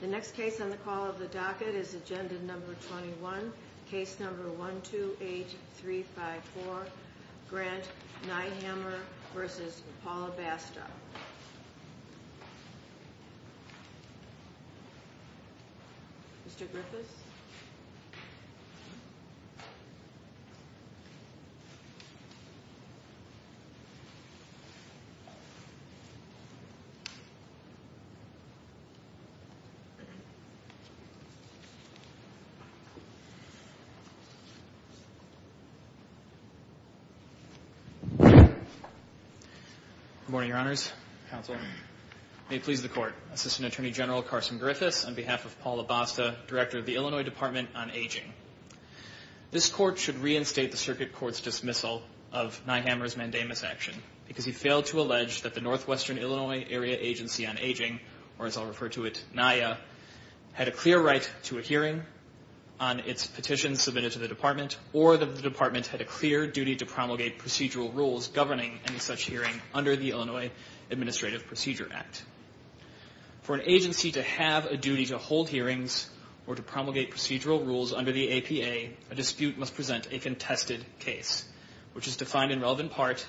The next case on the call of the docket is Agenda No. 21, Case No. 128354, Grant Nighhammer v. Paula Basta. Mr. Griffiths? Good morning, Your Honors, Counsel. May it please the Court, Assistant Attorney General Carson Griffiths, on behalf of Paula Basta, Director of the Illinois Department on Aging. This Court should reinstate the Circuit Court's dismissal of Nighhammer's mandamus action because he failed to allege that the Northwestern Illinois Area Agency on Aging, or as I'll refer to it, NIA, had a clear right to a hearing on its petition submitted to the Department or that the Department had a clear duty to promulgate procedural rules governing any such hearing under the Illinois Administrative Procedure Act. For an agency to have a duty to hold hearings or to promulgate procedural rules under the APA, a dispute must present a contested case, which is defined in relevant part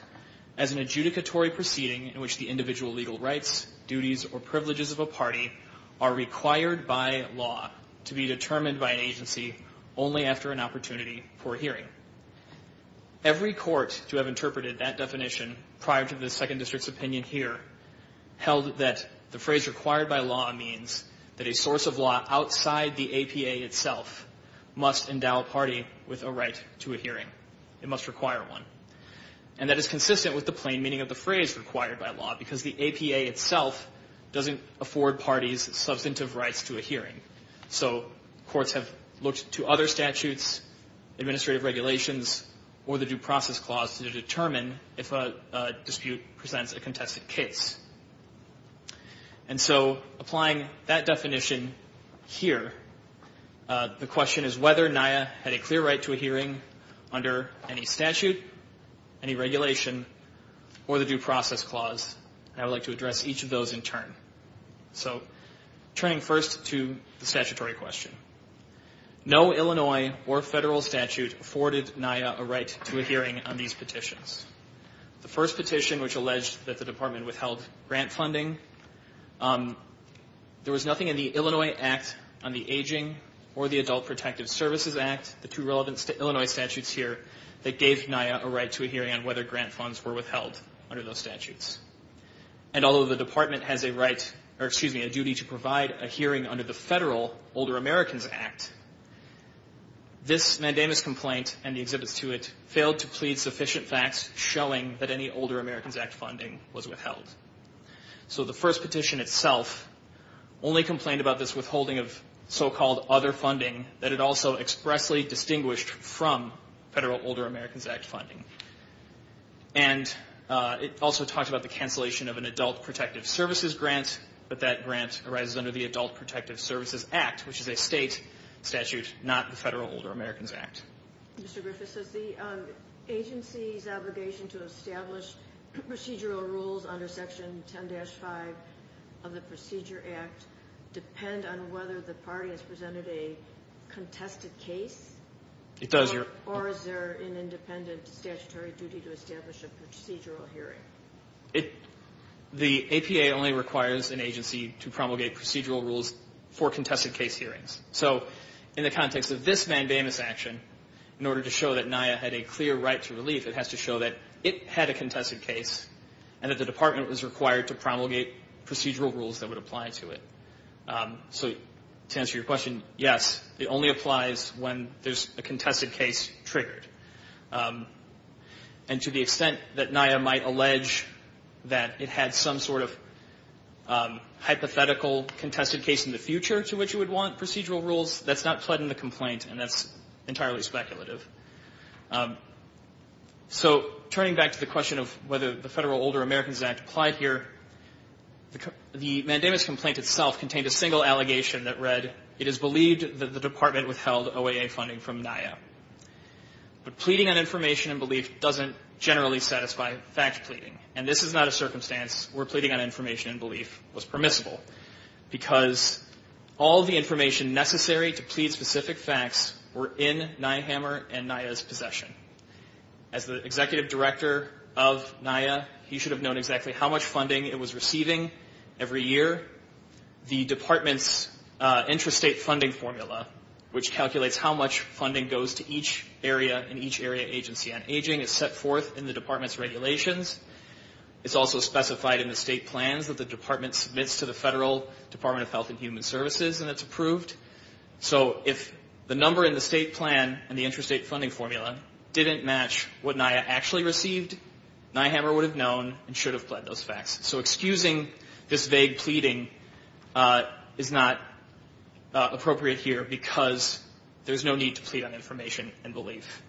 as an adjudicatory proceeding in which the individual legal rights, duties, or privileges of a party are required by law to be determined by an agency only after an opportunity for a hearing. Every court to have interpreted that definition prior to the Second District's opinion here held that the phrase required by law means that a source of law outside the APA itself must endow a party with a right to a hearing. It must require one. And that is consistent with the plain meaning of the phrase required by law because the APA itself doesn't afford parties substantive rights to a hearing. So courts have looked to other statutes, administrative regulations, or the Due Process Clause to determine if a dispute presents a contested case. And so applying that definition here, the question is whether NIA had a clear right to a hearing under any statute, any regulation, or the Due Process Clause. And I would like to address each of those in turn. So turning first to the statutory question. No Illinois or federal statute afforded NIA a right to a hearing on these petitions. The first petition, which alleged that the department withheld grant funding, there was nothing in the Illinois Act on the Aging or the Adult Protective Services Act, the two relevant Illinois statutes here, that gave NIA a right to a hearing on whether grant funds were withheld under those statutes. And although the department has a right, or excuse me, a duty to provide a hearing under the federal Older Americans Act, this mandamus complaint and the exhibits to it failed to plead sufficient facts showing that any Older Americans Act funding was withheld. So the first petition itself only complained about this withholding of so-called other funding that it also expressly distinguished from federal Older Americans Act funding. And it also talked about the cancellation of an Adult Protective Services grant, but that grant arises under the Adult Protective Services Act, which is a state statute, not the federal Older Americans Act. Mr. Griffiths, does the agency's obligation to establish procedural rules under Section 10-5 of the Procedure Act depend on whether the party has presented a contested case? It does, Your Honor. Or is there an independent statutory duty to establish a procedural hearing? The APA only requires an agency to promulgate procedural rules for contested case hearings. So in the context of this mandamus action, in order to show that NIA had a clear right to relief, it has to show that it had a contested case and that the department was required to promulgate procedural rules that would apply to it. So to answer your question, yes, it only applies when there's a contested case triggered. And to the extent that NIA might allege that it had some sort of hypothetical contested case in the future to which it would want procedural rules, that's not fled in the complaint and that's entirely speculative. So turning back to the question of whether the federal Older Americans Act applied here, the mandamus complaint itself contained a single allegation that read, it is believed that the department withheld OAA funding from NIA. But pleading on information and belief doesn't generally satisfy fact pleading. And this is not a circumstance where pleading on information and belief was permissible, because all the information necessary to plead specific facts were in Nyhammer and NIA's possession. As the executive director of NIA, he should have known exactly how much funding it was receiving every year. The department's intrastate funding formula, which calculates how much funding goes to each area in each area agency on aging, is set forth in the department's regulations. It's also specified in the state plans that the department submits to the federal Department of Health and Human Services and it's approved. So if the number in the state plan and the intrastate funding formula didn't match what NIA actually received, Nyhammer would have known and should have pled those facts. So excusing this vague pleading is not appropriate here, because there's no need to plead on information and belief.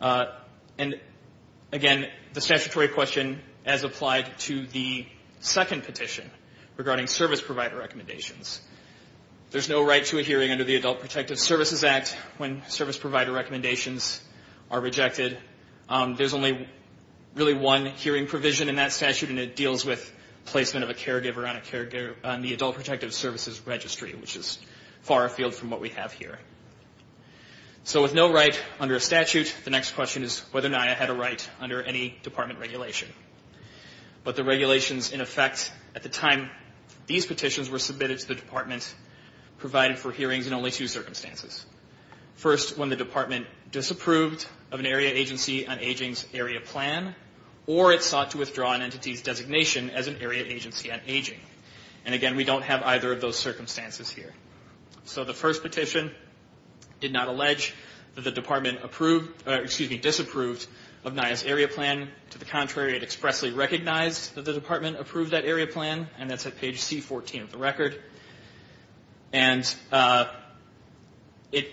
And again, the statutory question as applied to the second petition regarding service provider recommendations. There's no right to a hearing under the Adult Protective Services Act when service provider recommendations are rejected. There's only really one hearing provision in that statute and it deals with placement of a caregiver on the Adult Protective Services Registry, which is far afield from what we have here. So with no right under a statute, the next question is whether NIA had a right under any department regulation. But the regulations in effect at the time these petitions were submitted to the department provided for hearings in only two circumstances. First, when the department disapproved of an area agency on aging's area plan or it sought to withdraw an entity's designation as an area agency on aging. And again, we don't have either of those circumstances here. So the first petition did not allege that the department disapproved of NIA's area plan. To the contrary, it expressly recognized that the department approved that area plan and that's at page C14 of the record. And it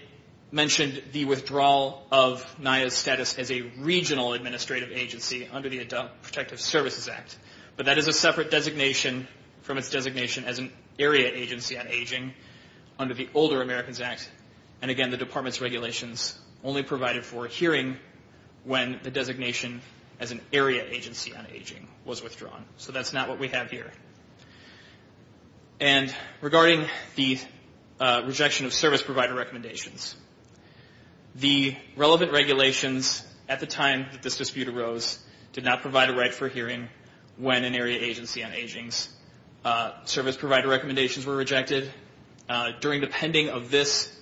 mentioned the withdrawal of NIA's status as a regional administrative agency under the Adult Protective Services Act. But that is a separate designation from its designation as an area agency on aging under the Older Americans Act. And again, the department's regulations only provided for a hearing when the designation as an area agency on aging was withdrawn. So that's not what we have here. And regarding the rejection of service provider recommendations, the relevant regulations at the time that this dispute arose did not provide a right for a hearing when an area agency on aging's service provider recommendations were rejected. During the pending of this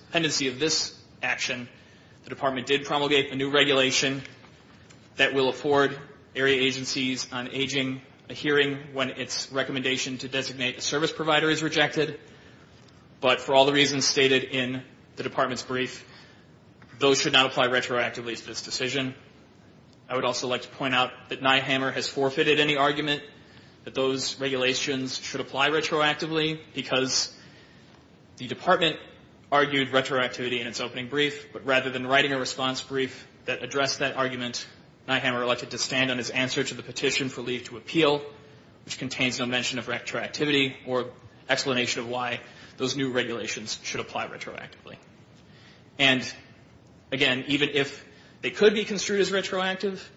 action, the department did promulgate a new regulation that will afford area agencies on aging a hearing when its recommendation to designate a service provider is rejected. But for all the reasons stated in the department's brief, those should not apply retroactively to this decision. I would also like to point out that Nyhammer has forfeited any argument that those regulations should apply retroactively because the department argued retroactivity in its opening brief. But rather than writing a response brief that addressed that argument, Nyhammer elected to stand on his answer to the petition for leave to appeal, which contains no mention of retroactivity or explanation of why those new regulations should apply retroactively. And again, even if they could be construed as retroactive,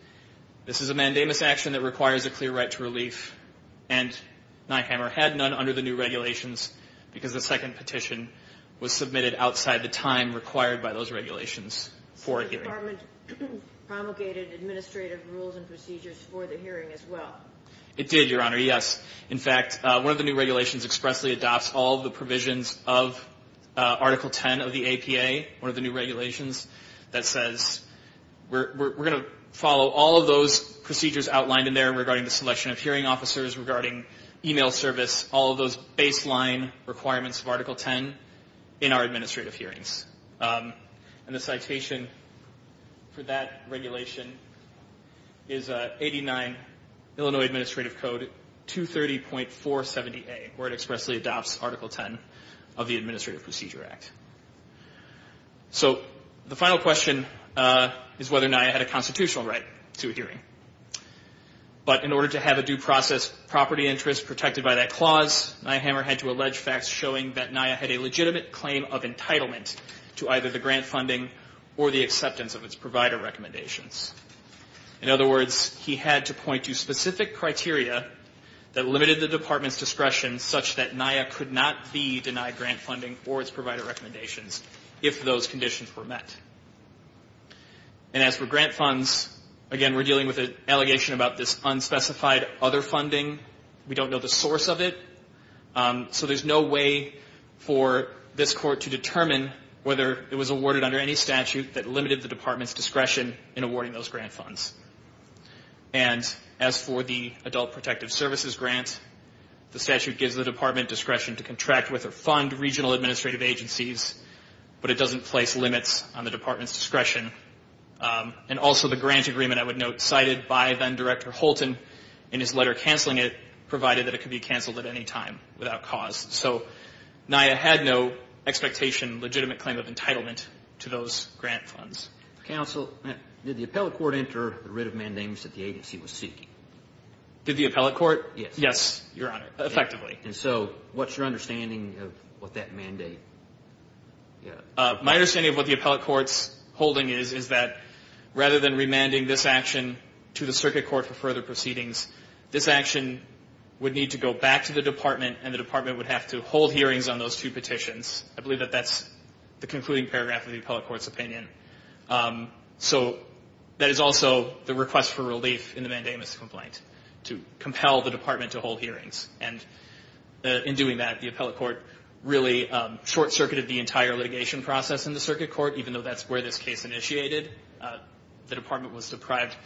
this is a mandamus action that requires a clear right to relief, and Nyhammer had none under the new regulations because the second petition was submitted outside the time required by those regulations for a hearing. So the department promulgated administrative rules and procedures for the hearing as well? For that regulation is 89 Illinois Administrative Code 230.470A, where it expressly adopts Article 10 of the Administrative Procedure Act. So the final question is whether NIA had a constitutional right to a hearing. But in order to have a due process property interest protected by that clause, Nyhammer had to allege facts showing that NIA had a legitimate claim of entitlement to either the grant funding or the acceptance of its provider recommendations. In other words, he had to point to specific criteria that limited the department's discretion such that NIA could not be denied grant funding or its provider recommendations if those conditions were met. And as for grant funds, again, we're dealing with an allegation about this unspecified other funding. We don't know the source of it. So there's no way for this court to determine whether it was awarded under any statute that limited the department's discretion in awarding those grant funds. And as for the Adult Protective Services grant, the statute gives the department discretion to contract with or fund regional administrative agencies, but it doesn't place limits on the department's discretion. And also the grant agreement, I would note, cited by then Director Holton in his letter canceling it, provided that it could be canceled at any time without cause. So NIA had no expectation, legitimate claim of entitlement to those grant funds. Counsel, did the appellate court enter the writ of mandamus that the agency was seeking? Did the appellate court? Yes. Yes, Your Honor, effectively. And so what's your understanding of what that mandate? My understanding of what the appellate court's holding is, is that rather than remanding this action to the circuit court for further proceedings, this action would need to go back to the department and the department would have to hold hearings on those two petitions. I believe that that's the concluding paragraph of the appellate court's opinion. So that is also the request for relief in the mandamus complaint, to compel the department to hold hearings. And in doing that, the appellate court really short-circuited the entire litigation process in the circuit court, even though that's where this case initiated. The department was deprived of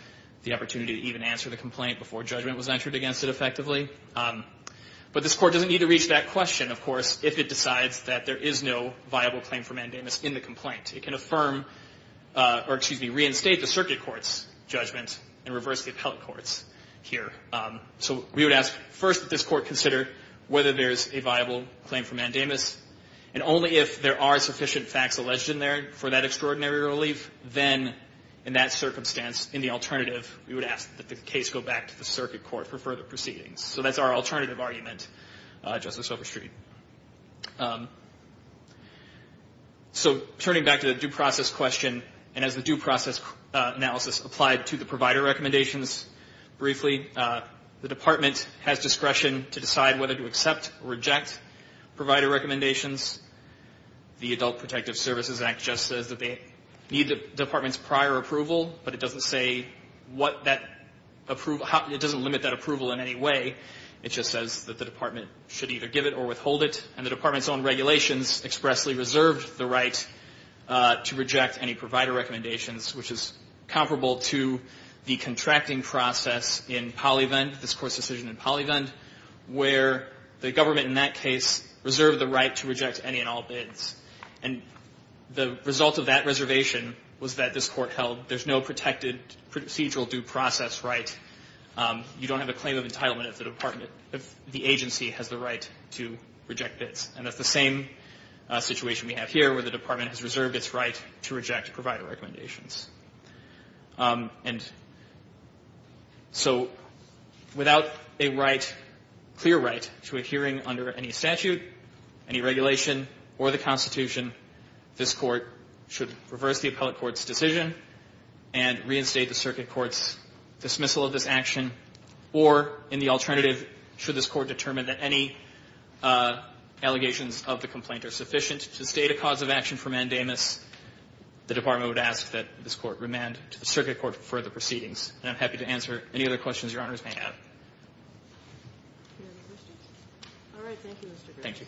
the opportunity to even answer the complaint before judgment was entered against it effectively. But this court doesn't need to reach that question, of course, if it decides that there is no viable claim for mandamus in the complaint. It can affirm or, excuse me, reinstate the circuit court's judgment and reverse the appellate court's here. So we would ask first that this court consider whether there is a viable claim for mandamus. And only if there are sufficient facts alleged in there for that extraordinary relief, then in that circumstance, in the alternative, we would ask that the case go back to the circuit court for further proceedings. So that's our alternative argument, Justice Overstreet. So turning back to the due process question, and as the due process analysis applied to the provider recommendations, briefly, the department has discretion to decide whether to accept or reject provider recommendations. The Adult Protective Services Act just says that they need the department's prior approval, but it doesn't say what that approval – it doesn't limit that approval in any way. It just says that the department should either give it or withhold it. And the department's own regulations expressly reserved the right to reject any provider recommendations, which is comparable to the contracting process in PolyVend, this court's decision in PolyVend, where the government in that case reserved the right to reject any and all bids. And the result of that reservation was that this court held there's no protected procedural due process right. You don't have a claim of entitlement if the department – if the agency has the right to reject bids. And that's the same situation we have here, where the department has reserved its right to reject provider recommendations. And so without a right, clear right, to a hearing under any statute, any regulation, or the Constitution, this court should reverse the appellate court's decision and reinstate the circuit court's dismissal of this action. Or, in the alternative, should this court determine that any allegations of the complaint are sufficient to state a cause of action for mandamus, the department would ask that this court remand to the circuit court for the proceedings. And I'm happy to answer any other questions Your Honors may have. All right. Thank you, Mr. Gray. Thank you.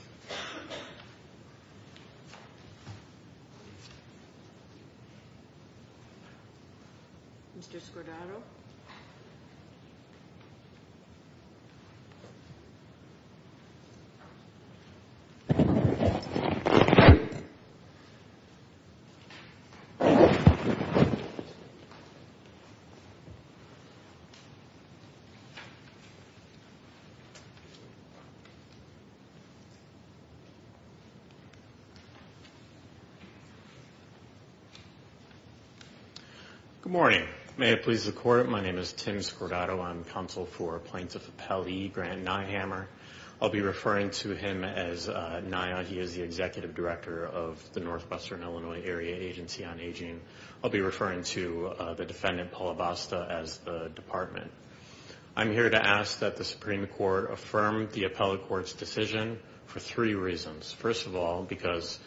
Mr. Scordato. Good morning. May it please the court, my name is Tim Scordato. I'm counsel for Plaintiff Appellee Grant Nyhammer. I'll be referring to him as Nya. He is the executive director of the Northwestern Illinois Area Agency on Aging. I'll be referring to the defendant, Paul Abasta, as the department. I'm here to ask that the Supreme Court affirm the appellate court's decision for three reasons. First of all, because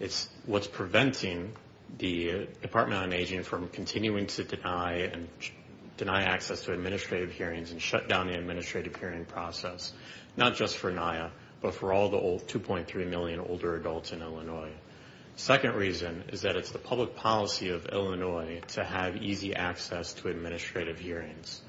it's what's preventing the Department on Aging from continuing to deny access to administrative hearings and shut down the administrative hearing process, not just for Nya, but for all the 2.3 million older adults in Illinois. Second reason is that it's the public policy of Illinois to have easy access to administrative hearings.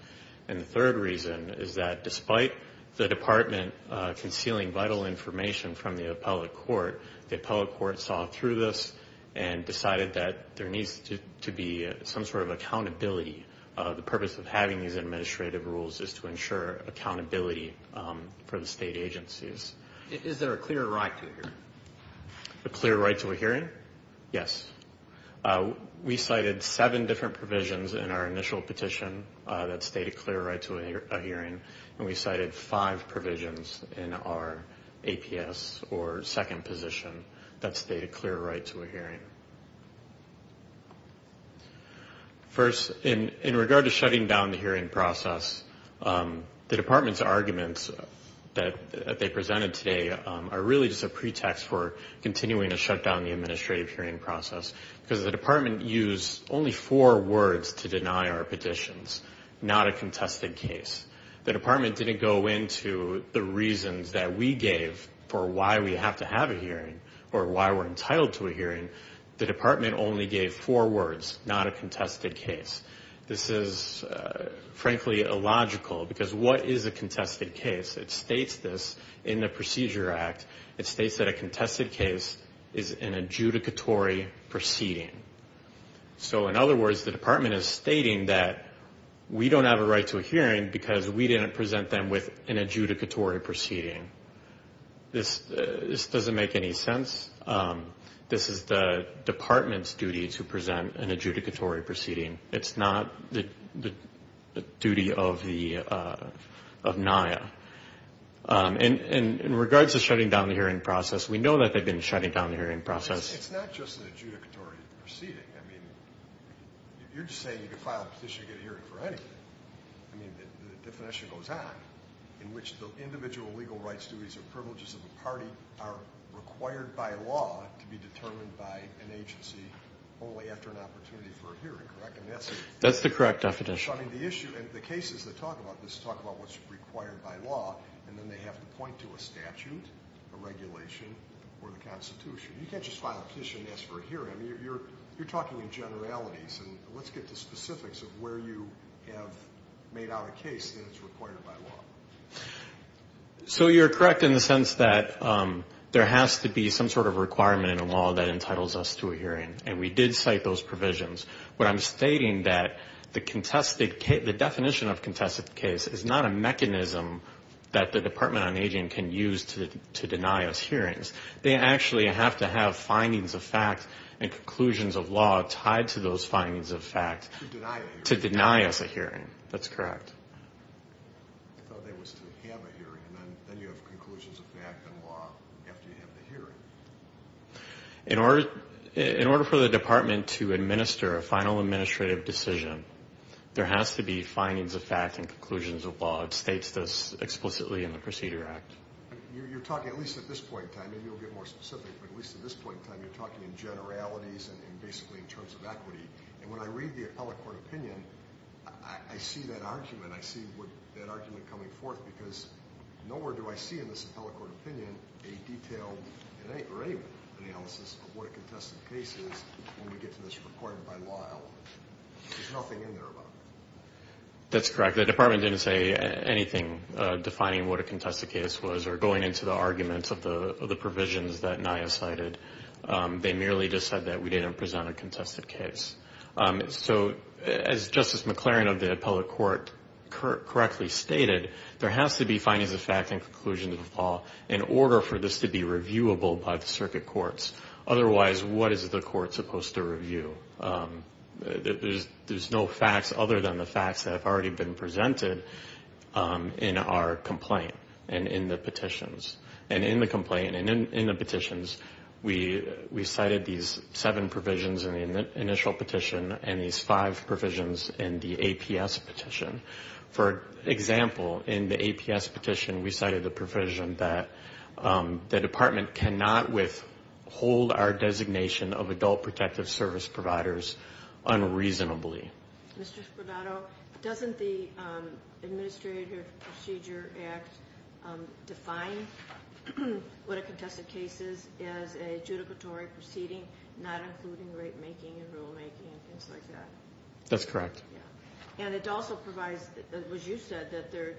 And the third reason is that despite the department concealing vital information from the appellate court, the appellate court saw through this and decided that there needs to be some sort of accountability. The purpose of having these administrative rules is to ensure accountability for the state agencies. Is there a clear right to it here? A clear right to a hearing? Yes. We cited seven different provisions in our initial petition that state a clear right to a hearing, and we cited five provisions in our APS or second position that state a clear right to a hearing. First, in regard to shutting down the hearing process, the department's arguments that they presented today are really just a pretext for continuing to shut down the administrative hearing process, because the department used only four words to deny our petitions, not a contested case. The department didn't go into the reasons that we gave for why we have to have a hearing or why we're entitled to a hearing. The department only gave four words, not a contested case. This is, frankly, illogical, because what is a contested case? It states this in the Procedure Act. It states that a contested case is an adjudicatory proceeding. So, in other words, the department is stating that we don't have a right to a hearing because we didn't present them with an adjudicatory proceeding. This doesn't make any sense. This is the department's duty to present an adjudicatory proceeding. It's not the duty of NIA. In regards to shutting down the hearing process, we know that they've been shutting down the hearing process. It's not just an adjudicatory proceeding. I mean, you're just saying you could file a petition to get a hearing for anything. I mean, the definition goes on, in which the individual legal rights, duties, or privileges of a party are required by law to be determined by an agency only after an opportunity for a hearing, correct? That's the correct definition. So, I mean, the issue, and the cases that talk about this talk about what's required by law, and then they have to point to a statute, a regulation, or the Constitution. You can't just file a petition and ask for a hearing. I mean, you're talking in generalities, and let's get to specifics of where you have made out a case that it's required by law. So you're correct in the sense that there has to be some sort of requirement in law that entitles us to a hearing, and we did cite those provisions. But I'm stating that the definition of contested case is not a mechanism that the Department of Aging can use to deny us hearings. They actually have to have findings of fact and conclusions of law tied to those findings of fact to deny us a hearing. That's correct. I thought that was to have a hearing, and then you have conclusions of fact and law after you have the hearing. In order for the department to administer a final administrative decision, there has to be findings of fact and conclusions of law. It states this explicitly in the Procedure Act. You're talking, at least at this point in time, and you'll get more specific, but at least at this point in time you're talking in generalities and basically in terms of equity. And when I read the appellate court opinion, I see that argument. I see that argument coming forth because nowhere do I see in this appellate court opinion a detailed analysis of what a contested case is when we get to this required by law element. There's nothing in there about it. That's correct. The department didn't say anything defining what a contested case was or going into the arguments of the provisions that NIA cited. They merely just said that we didn't present a contested case. So as Justice McLaren of the appellate court correctly stated, there has to be findings of fact and conclusions of law in order for this to be reviewable by the circuit courts. Otherwise, what is the court supposed to review? There's no facts other than the facts that have already been presented in our complaint and in the petitions. We cited these seven provisions in the initial petition and these five provisions in the APS petition. For example, in the APS petition, we cited the provision that the department cannot withhold our designation of adult protective service providers unreasonably. Mr. Spodato, doesn't the Administrative Procedure Act define what a contested case is as a judicatory proceeding, not including rate making and rule making and things like that? That's correct. And it also provides, as you said, that there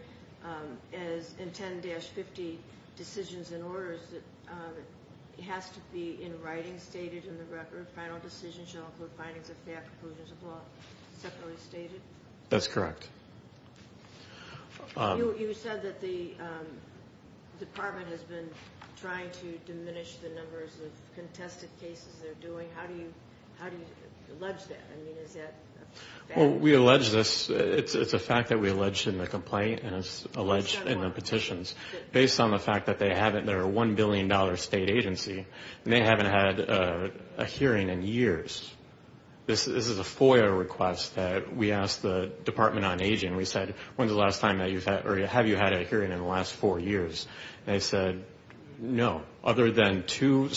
is in 10-50 decisions and orders, it has to be in writing stated in the record, final decision shall include findings of fact and conclusions of law separately stated? That's correct. You said that the department has been trying to diminish the numbers of contested cases they're doing. How do you allege that? I mean, is that a fact? Well, we allege this. It's a fact that we allege in the complaint and it's alleged in the petitions. Based on the fact that they're a $1 billion state agency and they haven't had a hearing in years. This is a FOIA request that we asked the Department on Aging. We said, when's the last time that you've had or have you had a hearing in the last four years? And they said, no. Other than two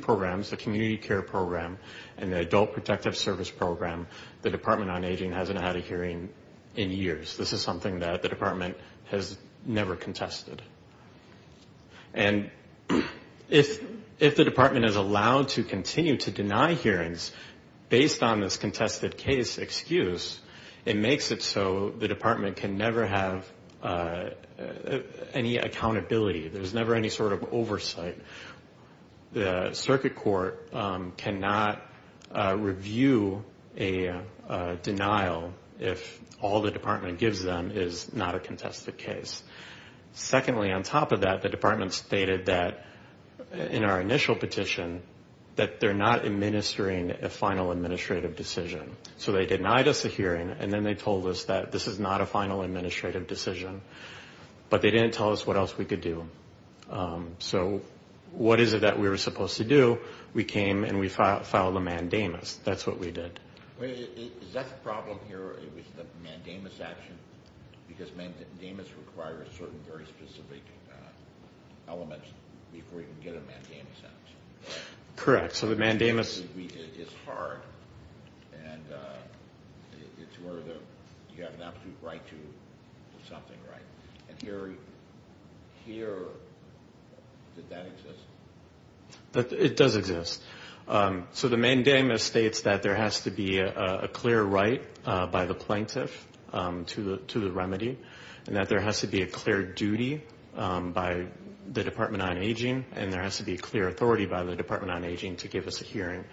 programs, the community care program and the adult protective service program, the Department on Aging hasn't had a hearing in years. This is something that the department has never contested. And if the department is allowed to continue to deny hearings based on this contested case excuse, it makes it so the department can never have any accountability. The circuit court cannot review a denial if all the department gives them is not a contested case. Secondly, on top of that, the department stated that in our initial petition, that they're not administering a final administrative decision. So they denied us a hearing and then they told us that this is not a final administrative decision. But they didn't tell us what else we could do. So what is it that we were supposed to do? We came and we filed a mandamus. That's what we did. Is that the problem here with the mandamus action? Because mandamus requires certain very specific elements before you can get a mandamus out. Correct. So the mandamus is hard and it's where you have an absolute right to something, right? And here, did that exist? It does exist. So the mandamus states that there has to be a clear right by the plaintiff to the remedy and that there has to be a clear duty by the Department on Aging and there has to be a clear authority by the Department on Aging to give us a hearing.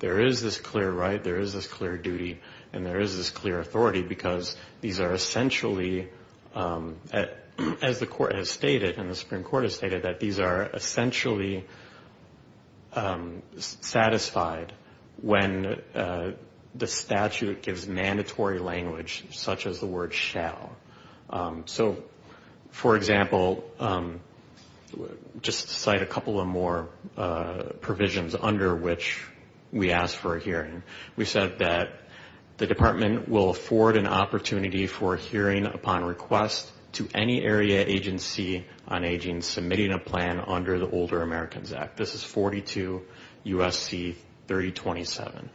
There is this clear right, there is this clear duty, and there is this clear authority because these are essentially, as the Court has stated and the Supreme Court has stated, that these are essentially satisfied when the statute gives mandatory language such as the word shall. So, for example, just to cite a couple of more provisions under which we asked for a hearing, we said that the department will afford an opportunity for a hearing upon request to any area agency on aging submitting a plan under the Older Americans Act. This is 42 U.S.C. 3027.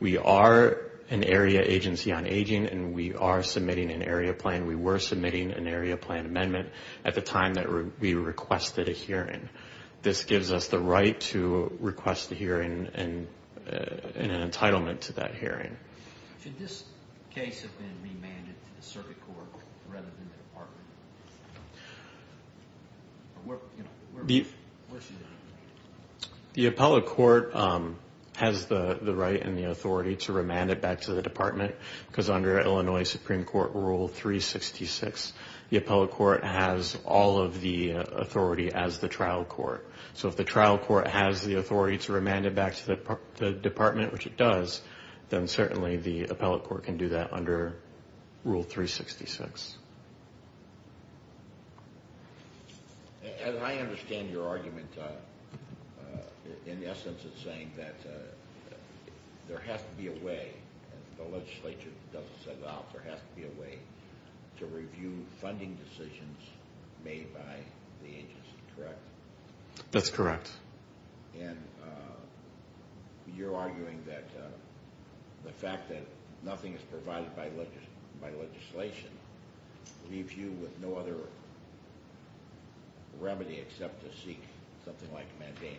We are an area agency on aging and we are submitting an area plan. We were submitting an area plan amendment at the time that we requested a hearing. This gives us the right to request a hearing and an entitlement to that hearing. Should this case have been remanded to the circuit court rather than the department? Where should it be remanded? The appellate court has the right and the authority to remand it back to the department because under Illinois Supreme Court Rule 366, the appellate court has all of the authority as the trial court. So if the trial court has the authority to remand it back to the department, which it does, then certainly the appellate court can do that under Rule 366. As I understand your argument, in essence it's saying that there has to be a way, and the legislature doesn't set it out, there has to be a way to review funding decisions made by the agency, correct? That's correct. And you're arguing that the fact that nothing is provided by legislation leaves you with no other remedy except to seek something like mandamus.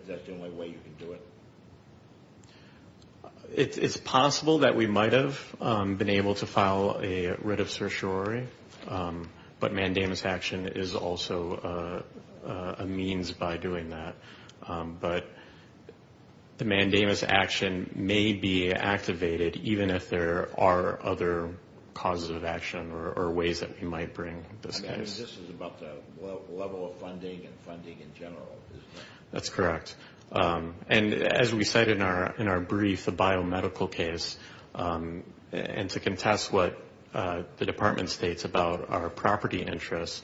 Is that the only way you can do it? It's possible that we might have been able to file a writ of certiorari, but mandamus action is also a means by doing that. But the mandamus action may be activated even if there are other causes of action or ways that we might bring this case. But this is about the level of funding and funding in general, isn't it? That's correct. And as we said in our brief, the biomedical case, and to contest what the department states about our property interests,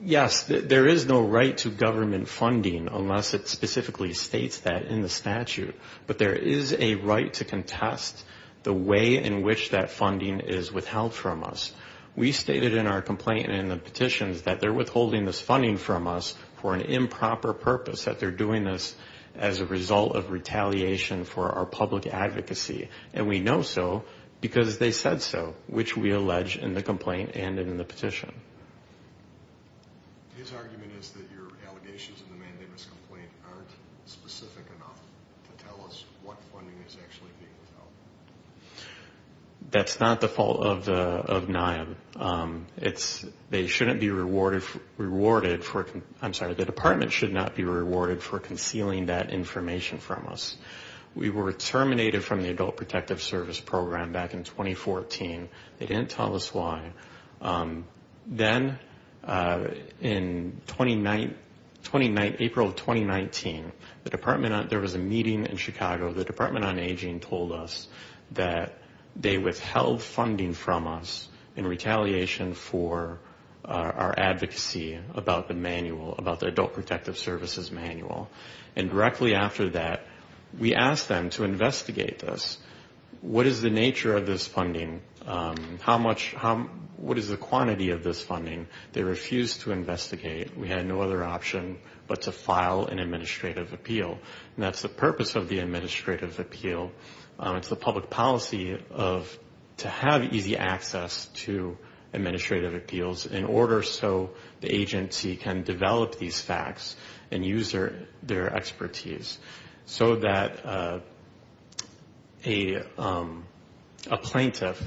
yes, there is no right to government funding unless it specifically states that in the statute. But there is a right to contest the way in which that funding is withheld from us. We stated in our complaint and in the petitions that they're withholding this funding from us for an improper purpose, that they're doing this as a result of retaliation for our public advocacy. And we know so because they said so, which we allege in the complaint and in the petition. His argument is that your allegations in the mandamus complaint aren't specific enough to tell us what funding is actually being withheld. That's not the fault of NIAB. They shouldn't be rewarded for the department should not be rewarded for concealing that information from us. We were terminated from the Adult Protective Service Program back in 2014. They didn't tell us why. Then in April of 2019, there was a meeting in Chicago. The Department on Aging told us that they withheld funding from us in retaliation for our advocacy about the manual, about the Adult Protective Services manual. And directly after that, we asked them to investigate this. What is the nature of this funding? What is the quantity of this funding? They refused to investigate. We had no other option but to file an administrative appeal. And that's the purpose of the administrative appeal. It's the public policy to have easy access to administrative appeals in order so the agency can develop these facts and use their expertise so that a plaintiff,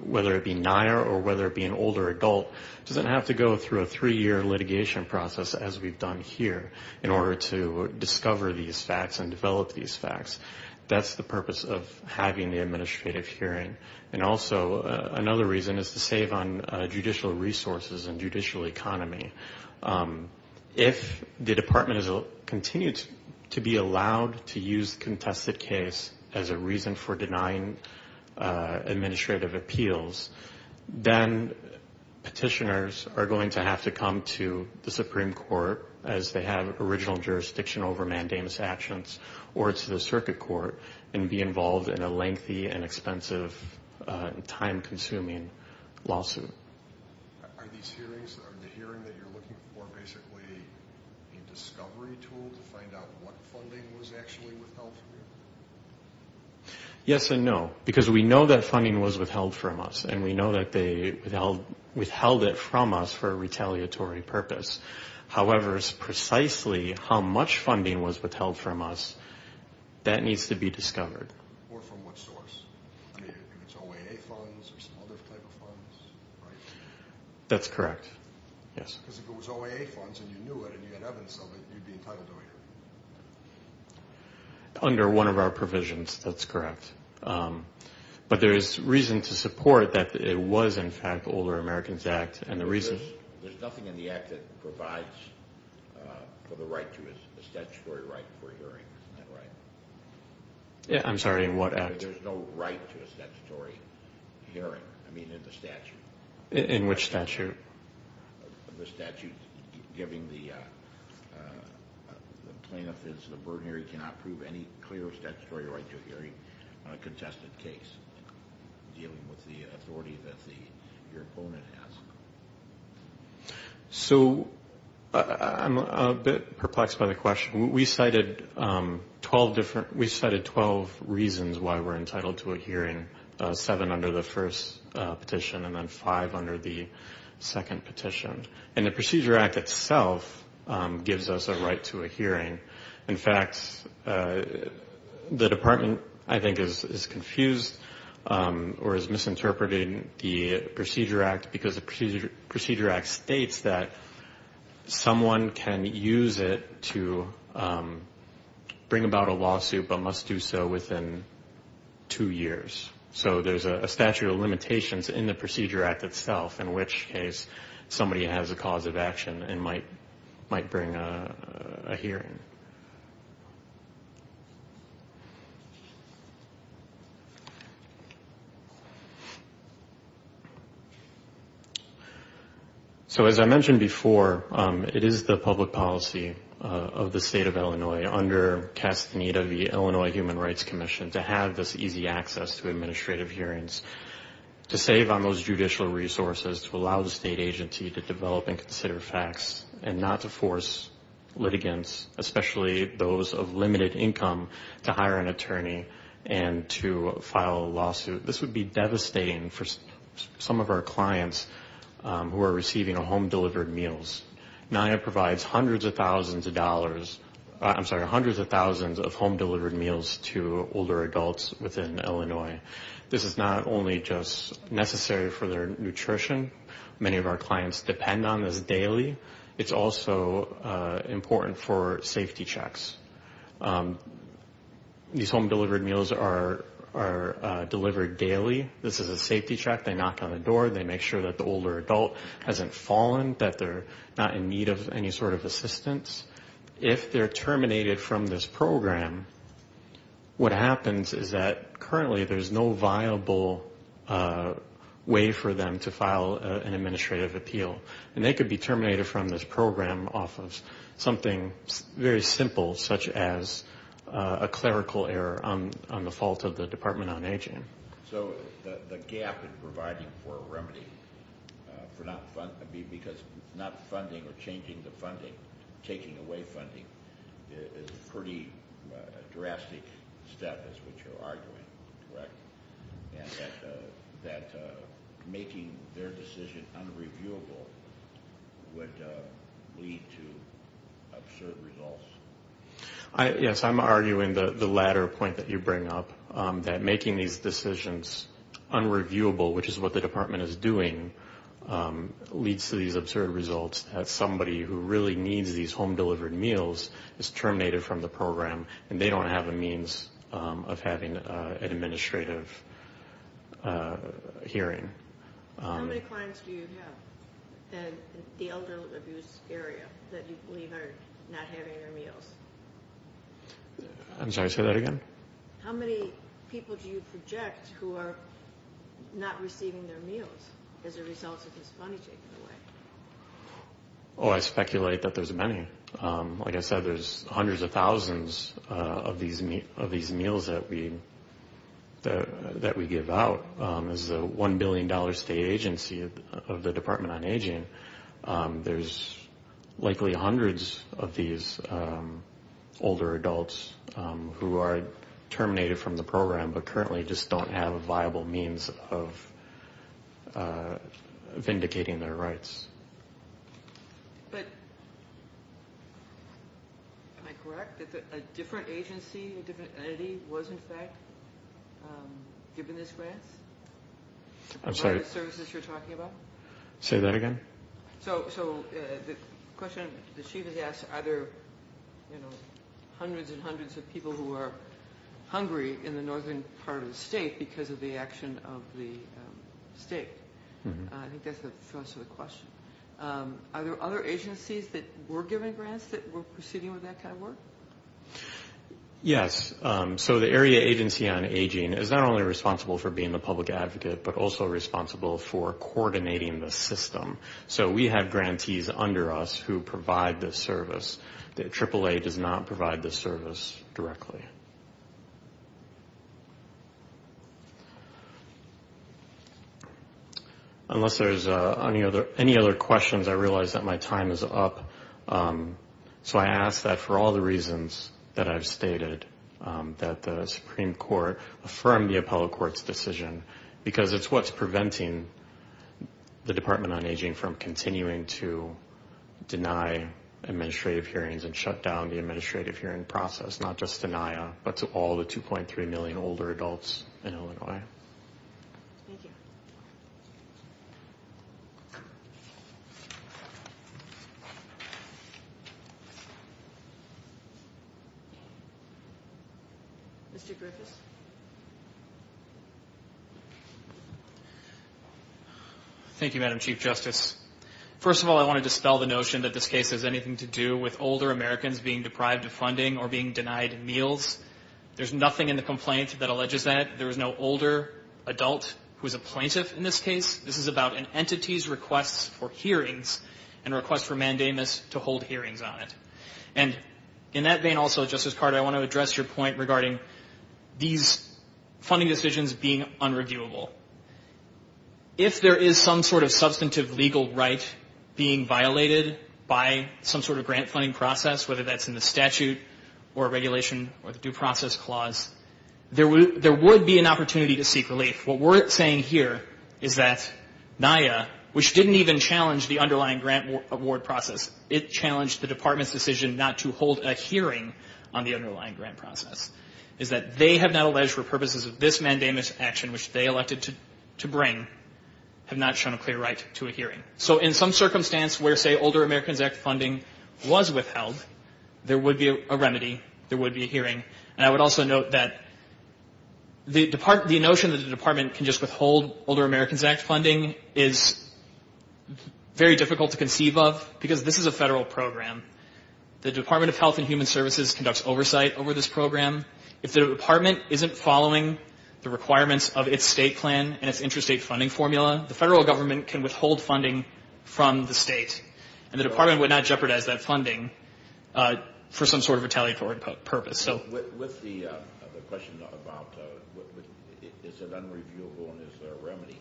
whether it be NIA or whether it be an older adult, doesn't have to go through a three-year litigation process as we've done here in order to discover these facts and develop these facts. That's the purpose of having the administrative hearing. And also another reason is to save on judicial resources and judicial economy. If the department continues to be allowed to use the contested case as a reason for denying administrative appeals, then petitioners are going to have to come to the Supreme Court as they have original jurisdiction over mandamus actions or to the circuit court and be involved in a lengthy and expensive and time-consuming lawsuit. Are these hearings, the hearing that you're looking for, basically a discovery tool to find out what funding was actually withheld from you? Yes and no, because we know that funding was withheld from us and we know that they withheld it from us for a retaliatory purpose. However, it's precisely how much funding was withheld from us that needs to be discovered. Or from what source? I mean, it's OAA funds or some other type of funds, right? That's correct, yes. Because if it was OAA funds and you knew it and you had evidence of it, you'd be entitled to a hearing. Under one of our provisions, that's correct. But there is reason to support that it was, in fact, the Older Americans Act. There's nothing in the Act that provides for the statutory right for a hearing, isn't that right? Yeah, I'm sorry, in what Act? There's no right to a statutory hearing, I mean in the statute. In which statute? The statute giving the plaintiff is the burdenary, cannot prove any clear statutory right to a hearing on a contested case, dealing with the authority that your opponent has. So I'm a bit perplexed by the question. We cited 12 reasons why we're entitled to a hearing, seven under the first petition and then five under the second petition. And the Procedure Act itself gives us a right to a hearing. In fact, the Department, I think, is confused or is misinterpreting the Procedure Act because the Procedure Act states that someone can use it to bring about a lawsuit but must do so within two years. So there's a statute of limitations in the Procedure Act itself, in which case somebody has a cause of action and might bring a hearing. So as I mentioned before, it is the public policy of the State of Illinois, under cast need of the Illinois Human Rights Commission, to have this easy access to administrative hearings, to save on those judicial resources, to allow the state agency to develop and consider facts and not to force litigants, especially those of limited income, to hire an attorney and to file a lawsuit. This would be devastating for some of our clients who are receiving home-delivered meals. NIA provides hundreds of thousands of dollars, I'm sorry, hundreds of thousands of home-delivered meals to older adults within Illinois. This is not only just necessary for their nutrition. Many of our clients depend on this daily. It's also important for safety checks. These home-delivered meals are delivered daily. This is a safety check. They knock on the door. They make sure that the older adult hasn't fallen, that they're not in need of any sort of assistance. If they're terminated from this program, what happens is that currently there's no viable way for them to file an administrative appeal. And they could be terminated from this program off of something very simple, such as a clerical error on the fault of the Department on Aging. So the gap in providing for a remedy for not funding or changing the funding, taking away funding, is a pretty drastic step, is what you're arguing, correct? And that making their decision unreviewable would lead to absurd results. Yes, I'm arguing the latter point that you bring up, that making these decisions unreviewable, which is what the Department is doing, leads to these absurd results that somebody who really needs these home-delivered meals is terminated from the program and they don't have a means of having an administrative hearing. How many clients do you have in the elderly abuse area that you believe are not having their meals? I'm sorry, say that again? How many people do you project who are not receiving their meals as a result of this funding taking away? Oh, I speculate that there's many. Like I said, there's hundreds of thousands of these meals that we give out. This is a $1 billion state agency of the Department on Aging. There's likely hundreds of these older adults who are terminated from the program but currently just don't have a viable means of vindicating their rights. But am I correct that a different agency, a different entity, was in fact given this grant? I'm sorry, say that again? So the question the Chief has asked, are there hundreds and hundreds of people who are hungry in the northern part of the state because of the action of the state? I think that's the thrust of the question. Are there other agencies that were given grants that were proceeding with that kind of work? Yes. So the Area Agency on Aging is not only responsible for being the public advocate but also responsible for coordinating the system. So we have grantees under us who provide this service. AAA does not provide this service directly. Unless there's any other questions, I realize that my time is up. So I ask that for all the reasons that I've stated, that the Supreme Court affirm the appellate court's decision because it's what's preventing the Department on Aging from continuing to deny administrative hearings and shut down the administrative hearing process, not just denia, but to all the 2.3 million older adults in Illinois. Thank you. Thank you. Mr. Griffiths. Thank you, Madam Chief Justice. First of all, I want to dispel the notion that this case has anything to do with older Americans being deprived of funding or being denied meals. There's nothing in the complaint that alleges that. There is no older adult who is a plaintiff in this case. This is about an entity's request for hearings and a request for mandamus to hold hearings on it. And in that vein also, Justice Carter, I want to address your point regarding these funding decisions being unreviewable. If there is some sort of substantive legal right being violated by some sort of grant funding process, whether that's in the statute or regulation or the due process clause, there would be an opportunity to seek relief. What we're saying here is that NIA, which didn't even challenge the underlying grant award process, it challenged the Department's decision not to hold a hearing on the underlying grant process, is that they have not alleged for purposes of this mandamus action, which they elected to bring, have not shown a clear right to a hearing. So in some circumstance where, say, Older Americans Act funding was withheld, there would be a remedy. There would be a hearing. And I would also note that the notion that the Department can just withhold Older Americans Act funding is very difficult to conceive of because this is a federal program. The Department of Health and Human Services conducts oversight over this program. If the Department isn't following the requirements of its state plan and its interstate funding formula, the federal government can withhold funding from the state, and the Department would not jeopardize that funding for some sort of retaliatory purpose. With the question about is it unreviewable and is there a remedy,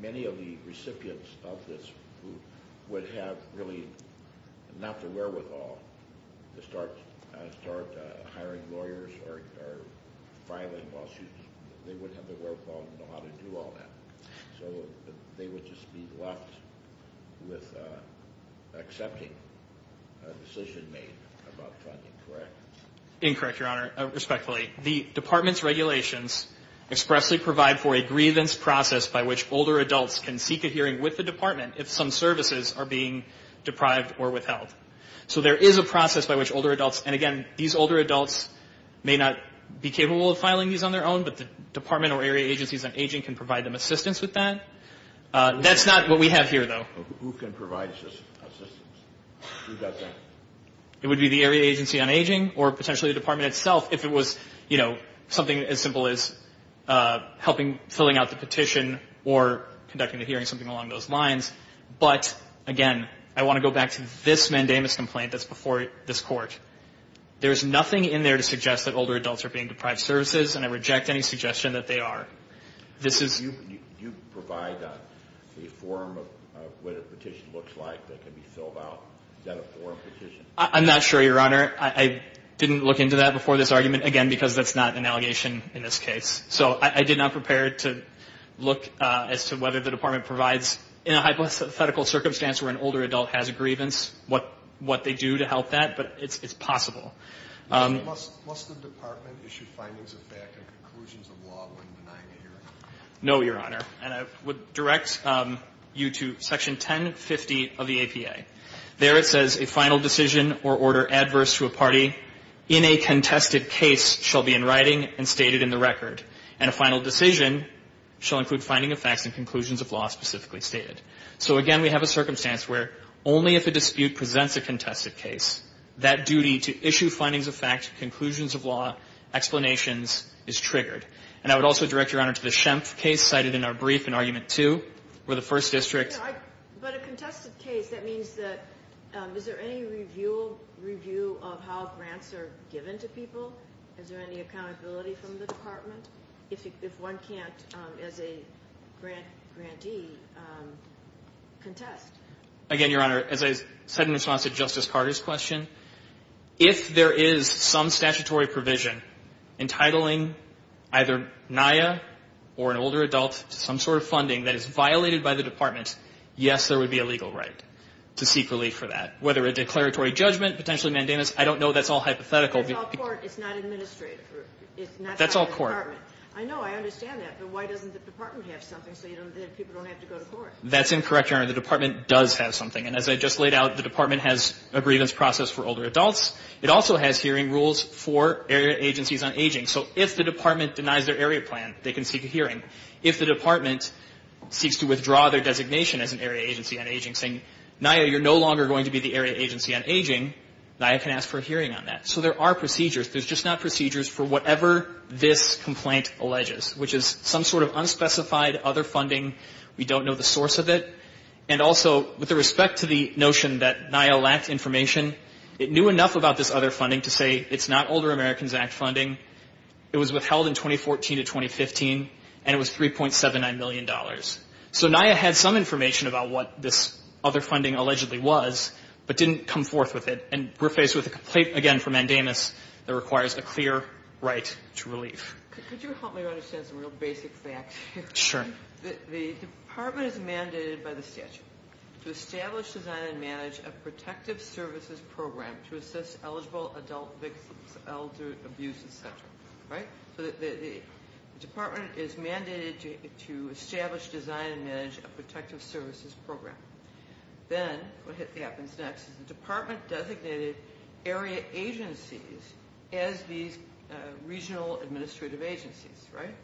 many of the recipients of this would have really not the wherewithal to start hiring lawyers or filing lawsuits. They wouldn't have the wherewithal to know how to do all that. So they would just be left with accepting a decision made about funding, correct? Incorrect, Your Honor. Respectfully, the Department's regulations expressly provide for a grievance process by which older adults can seek a hearing with the Department if some services are being deprived or withheld. So there is a process by which older adults, and, again, these older adults may not be capable of filing these on their own, but the Department or area agencies on aging can provide them assistance with that. That's not what we have here, though. Who can provide assistance? Who does that? It would be the area agency on aging or potentially the Department itself if it was, you know, something as simple as helping filling out the petition or conducting a hearing, something along those lines. But, again, I want to go back to this mandamus complaint that's before this Court. There is nothing in there to suggest that older adults are being deprived of services, and I reject any suggestion that they are. Do you provide a form of what a petition looks like that can be filled out? Is that a form petition? I'm not sure, Your Honor. I didn't look into that before this argument, again, because that's not an allegation in this case. So I did not prepare to look as to whether the Department provides, in a hypothetical circumstance where an older adult has a grievance, what they do to help that. But it's possible. Must the Department issue findings of fact and conclusions of law when denying a hearing? No, Your Honor. And I would direct you to Section 1050 of the APA. There it says, A final decision or order adverse to a party in a contested case shall be in writing and stated in the record, and a final decision shall include finding of facts and conclusions of law specifically stated. So, again, we have a circumstance where only if a dispute presents a contested case, that duty to issue findings of fact, conclusions of law, explanations, is triggered. And I would also direct Your Honor to the Schempf case cited in our brief in Argument 2 where the First District But a contested case, that means that, is there any review of how grants are given to people? Is there any accountability from the Department? If one can't, as a grantee, contest. Again, Your Honor, as I said in response to Justice Carter's question, if there is some statutory provision entitling either NIA or an older adult to some sort of funding that is violated by the Department, yes, there would be a legal right to seek relief for that. Whether a declaratory judgment, potentially mandamus, I don't know. That's all hypothetical. It's not administrative. That's all court. The Department. I know. I understand that. But why doesn't the Department have something so that people don't have to go to court? That's incorrect, Your Honor. The Department does have something. And as I just laid out, the Department has a grievance process for older adults. It also has hearing rules for area agencies on aging. So if the Department denies their area plan, they can seek a hearing. If the Department seeks to withdraw their designation as an area agency on aging, saying, NIA, you're no longer going to be the area agency on aging, NIA can ask for a hearing on that. So there are procedures. There's just not procedures for whatever this complaint alleges, which is some sort of unspecified other funding. We don't know the source of it. And also, with respect to the notion that NIA lacked information, it knew enough about this other funding to say it's not Older Americans Act funding. It was withheld in 2014 to 2015, and it was $3.79 million. So NIA had some information about what this other funding allegedly was, but didn't come forth with it. And we're faced with a complaint, again, from Mandamus that requires a clear right to relief. Could you help me understand some real basic facts here? Sure. The Department is mandated by the statute to establish, design, and manage a protective services program to assist eligible adult victims of elder abuse, et cetera, right? So the Department is mandated to establish, design, and manage a protective services program. Then what happens next is the Department designated area agencies as these regional administrative agencies, right?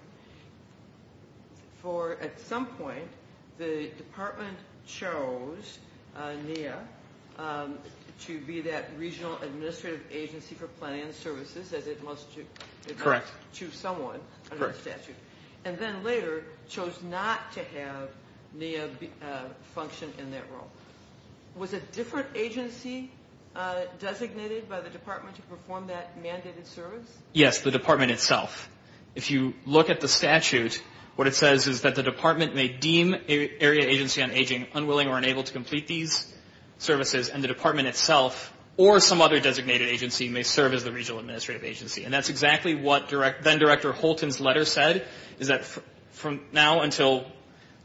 For at some point, the Department chose NIA to be that regional administrative agency for planning and services, as it must to someone under the statute. And then later chose not to have NIA function in that role. Was a different agency designated by the Department to perform that mandated service? Yes, the Department itself. If you look at the statute, what it says is that the Department may deem an area agency on aging unwilling or unable to complete these services, and the Department itself or some other designated agency may serve as the regional administrative agency. And that's exactly what then-Director Holton's letter said, is that from now until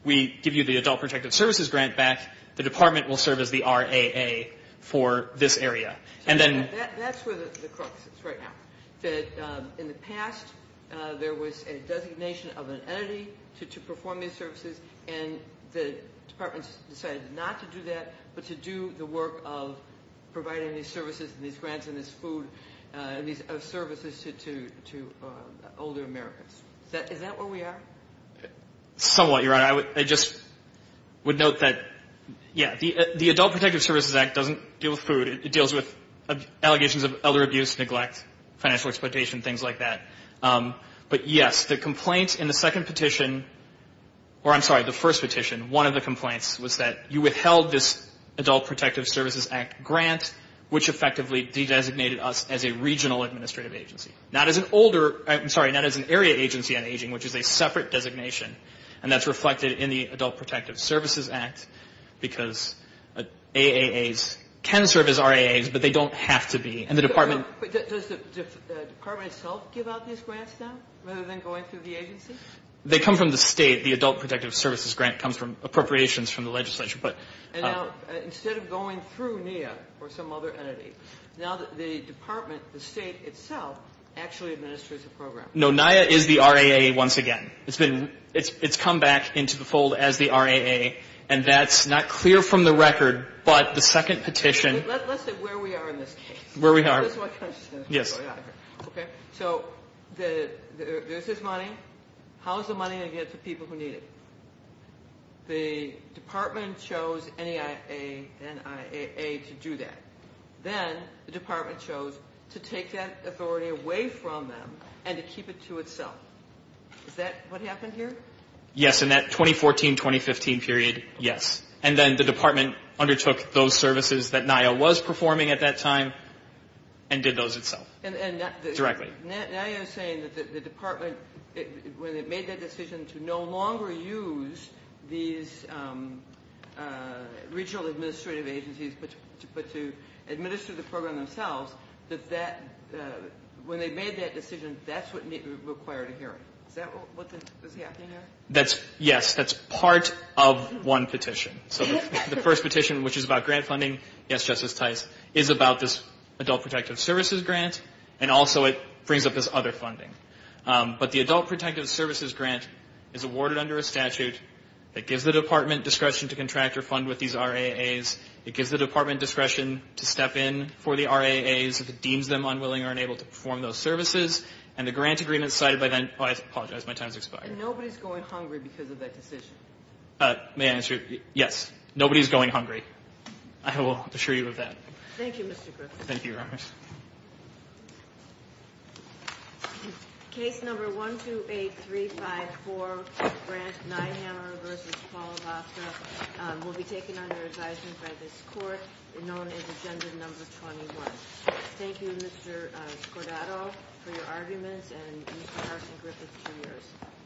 we give you the adult protective services grant back, the Department will serve as the RAA for this area. That's where the crux is right now. In the past, there was a designation of an entity to perform these services, and the Department decided not to do that but to do the work of providing these services and these grants and this food and these services to older Americans. Is that where we are? Somewhat, Your Honor. I just would note that, yeah, the Adult Protective Services Act doesn't deal with food. It deals with allegations of elder abuse, neglect, financial exploitation, things like that. But, yes, the complaint in the second petition or, I'm sorry, the first petition, one of the complaints was that you withheld this Adult Protective Services Act grant, which effectively designated us as a regional administrative agency, not as an older – I'm sorry, not as an area agency on aging, which is a separate designation. And that's reflected in the Adult Protective Services Act because AAAs can serve as RAAs, but they don't have to be. And the Department – Does the Department itself give out these grants now rather than going through the agency? They come from the State. The Adult Protective Services grant comes from appropriations from the legislature. And now, instead of going through NIA or some other entity, now the Department, the State itself, actually administers the program. No, NIA is the RAA once again. It's come back into the fold as the RAA, and that's not clear from the record. But the second petition – Let's say where we are in this case. Where we are. That's what I'm saying. Yes. So there's this money. How is the money going to get to people who need it? The Department chose NIA to do that. Then the Department chose to take that authority away from them and to keep it to itself. Is that what happened here? Yes, in that 2014-2015 period, yes. And then the Department undertook those services that NIA was performing at that time and did those itself, directly. NIA is saying that the Department, when it made that decision to no longer use these regional administrative agencies but to administer the program themselves, that when they made that decision, that's what required a hearing. Is that what was happening here? Yes, that's part of one petition. So the first petition, which is about grant funding, yes, Justice Tice, is about this Adult Protective Services grant, and also it brings up this other funding. But the Adult Protective Services grant is awarded under a statute that gives the Department discretion to contract or fund with these RAAs. It gives the Department discretion to step in for the RAAs if it deems them unwilling or unable to perform those services. And the grant agreement cited by – oh, I apologize. My time has expired. And nobody's going hungry because of that decision? May I answer? Yes. Nobody's going hungry. I will assure you of that. Thank you, Mr. Griffith. Thank you, Your Honors. Case number 128354, Grant Neihammer v. Paul Voska, will be taken under advisement by this Court, known as Agenda Number 21. Thank you, Mr. Cordato, for your arguments, and Mr. Carson Griffith, to yours.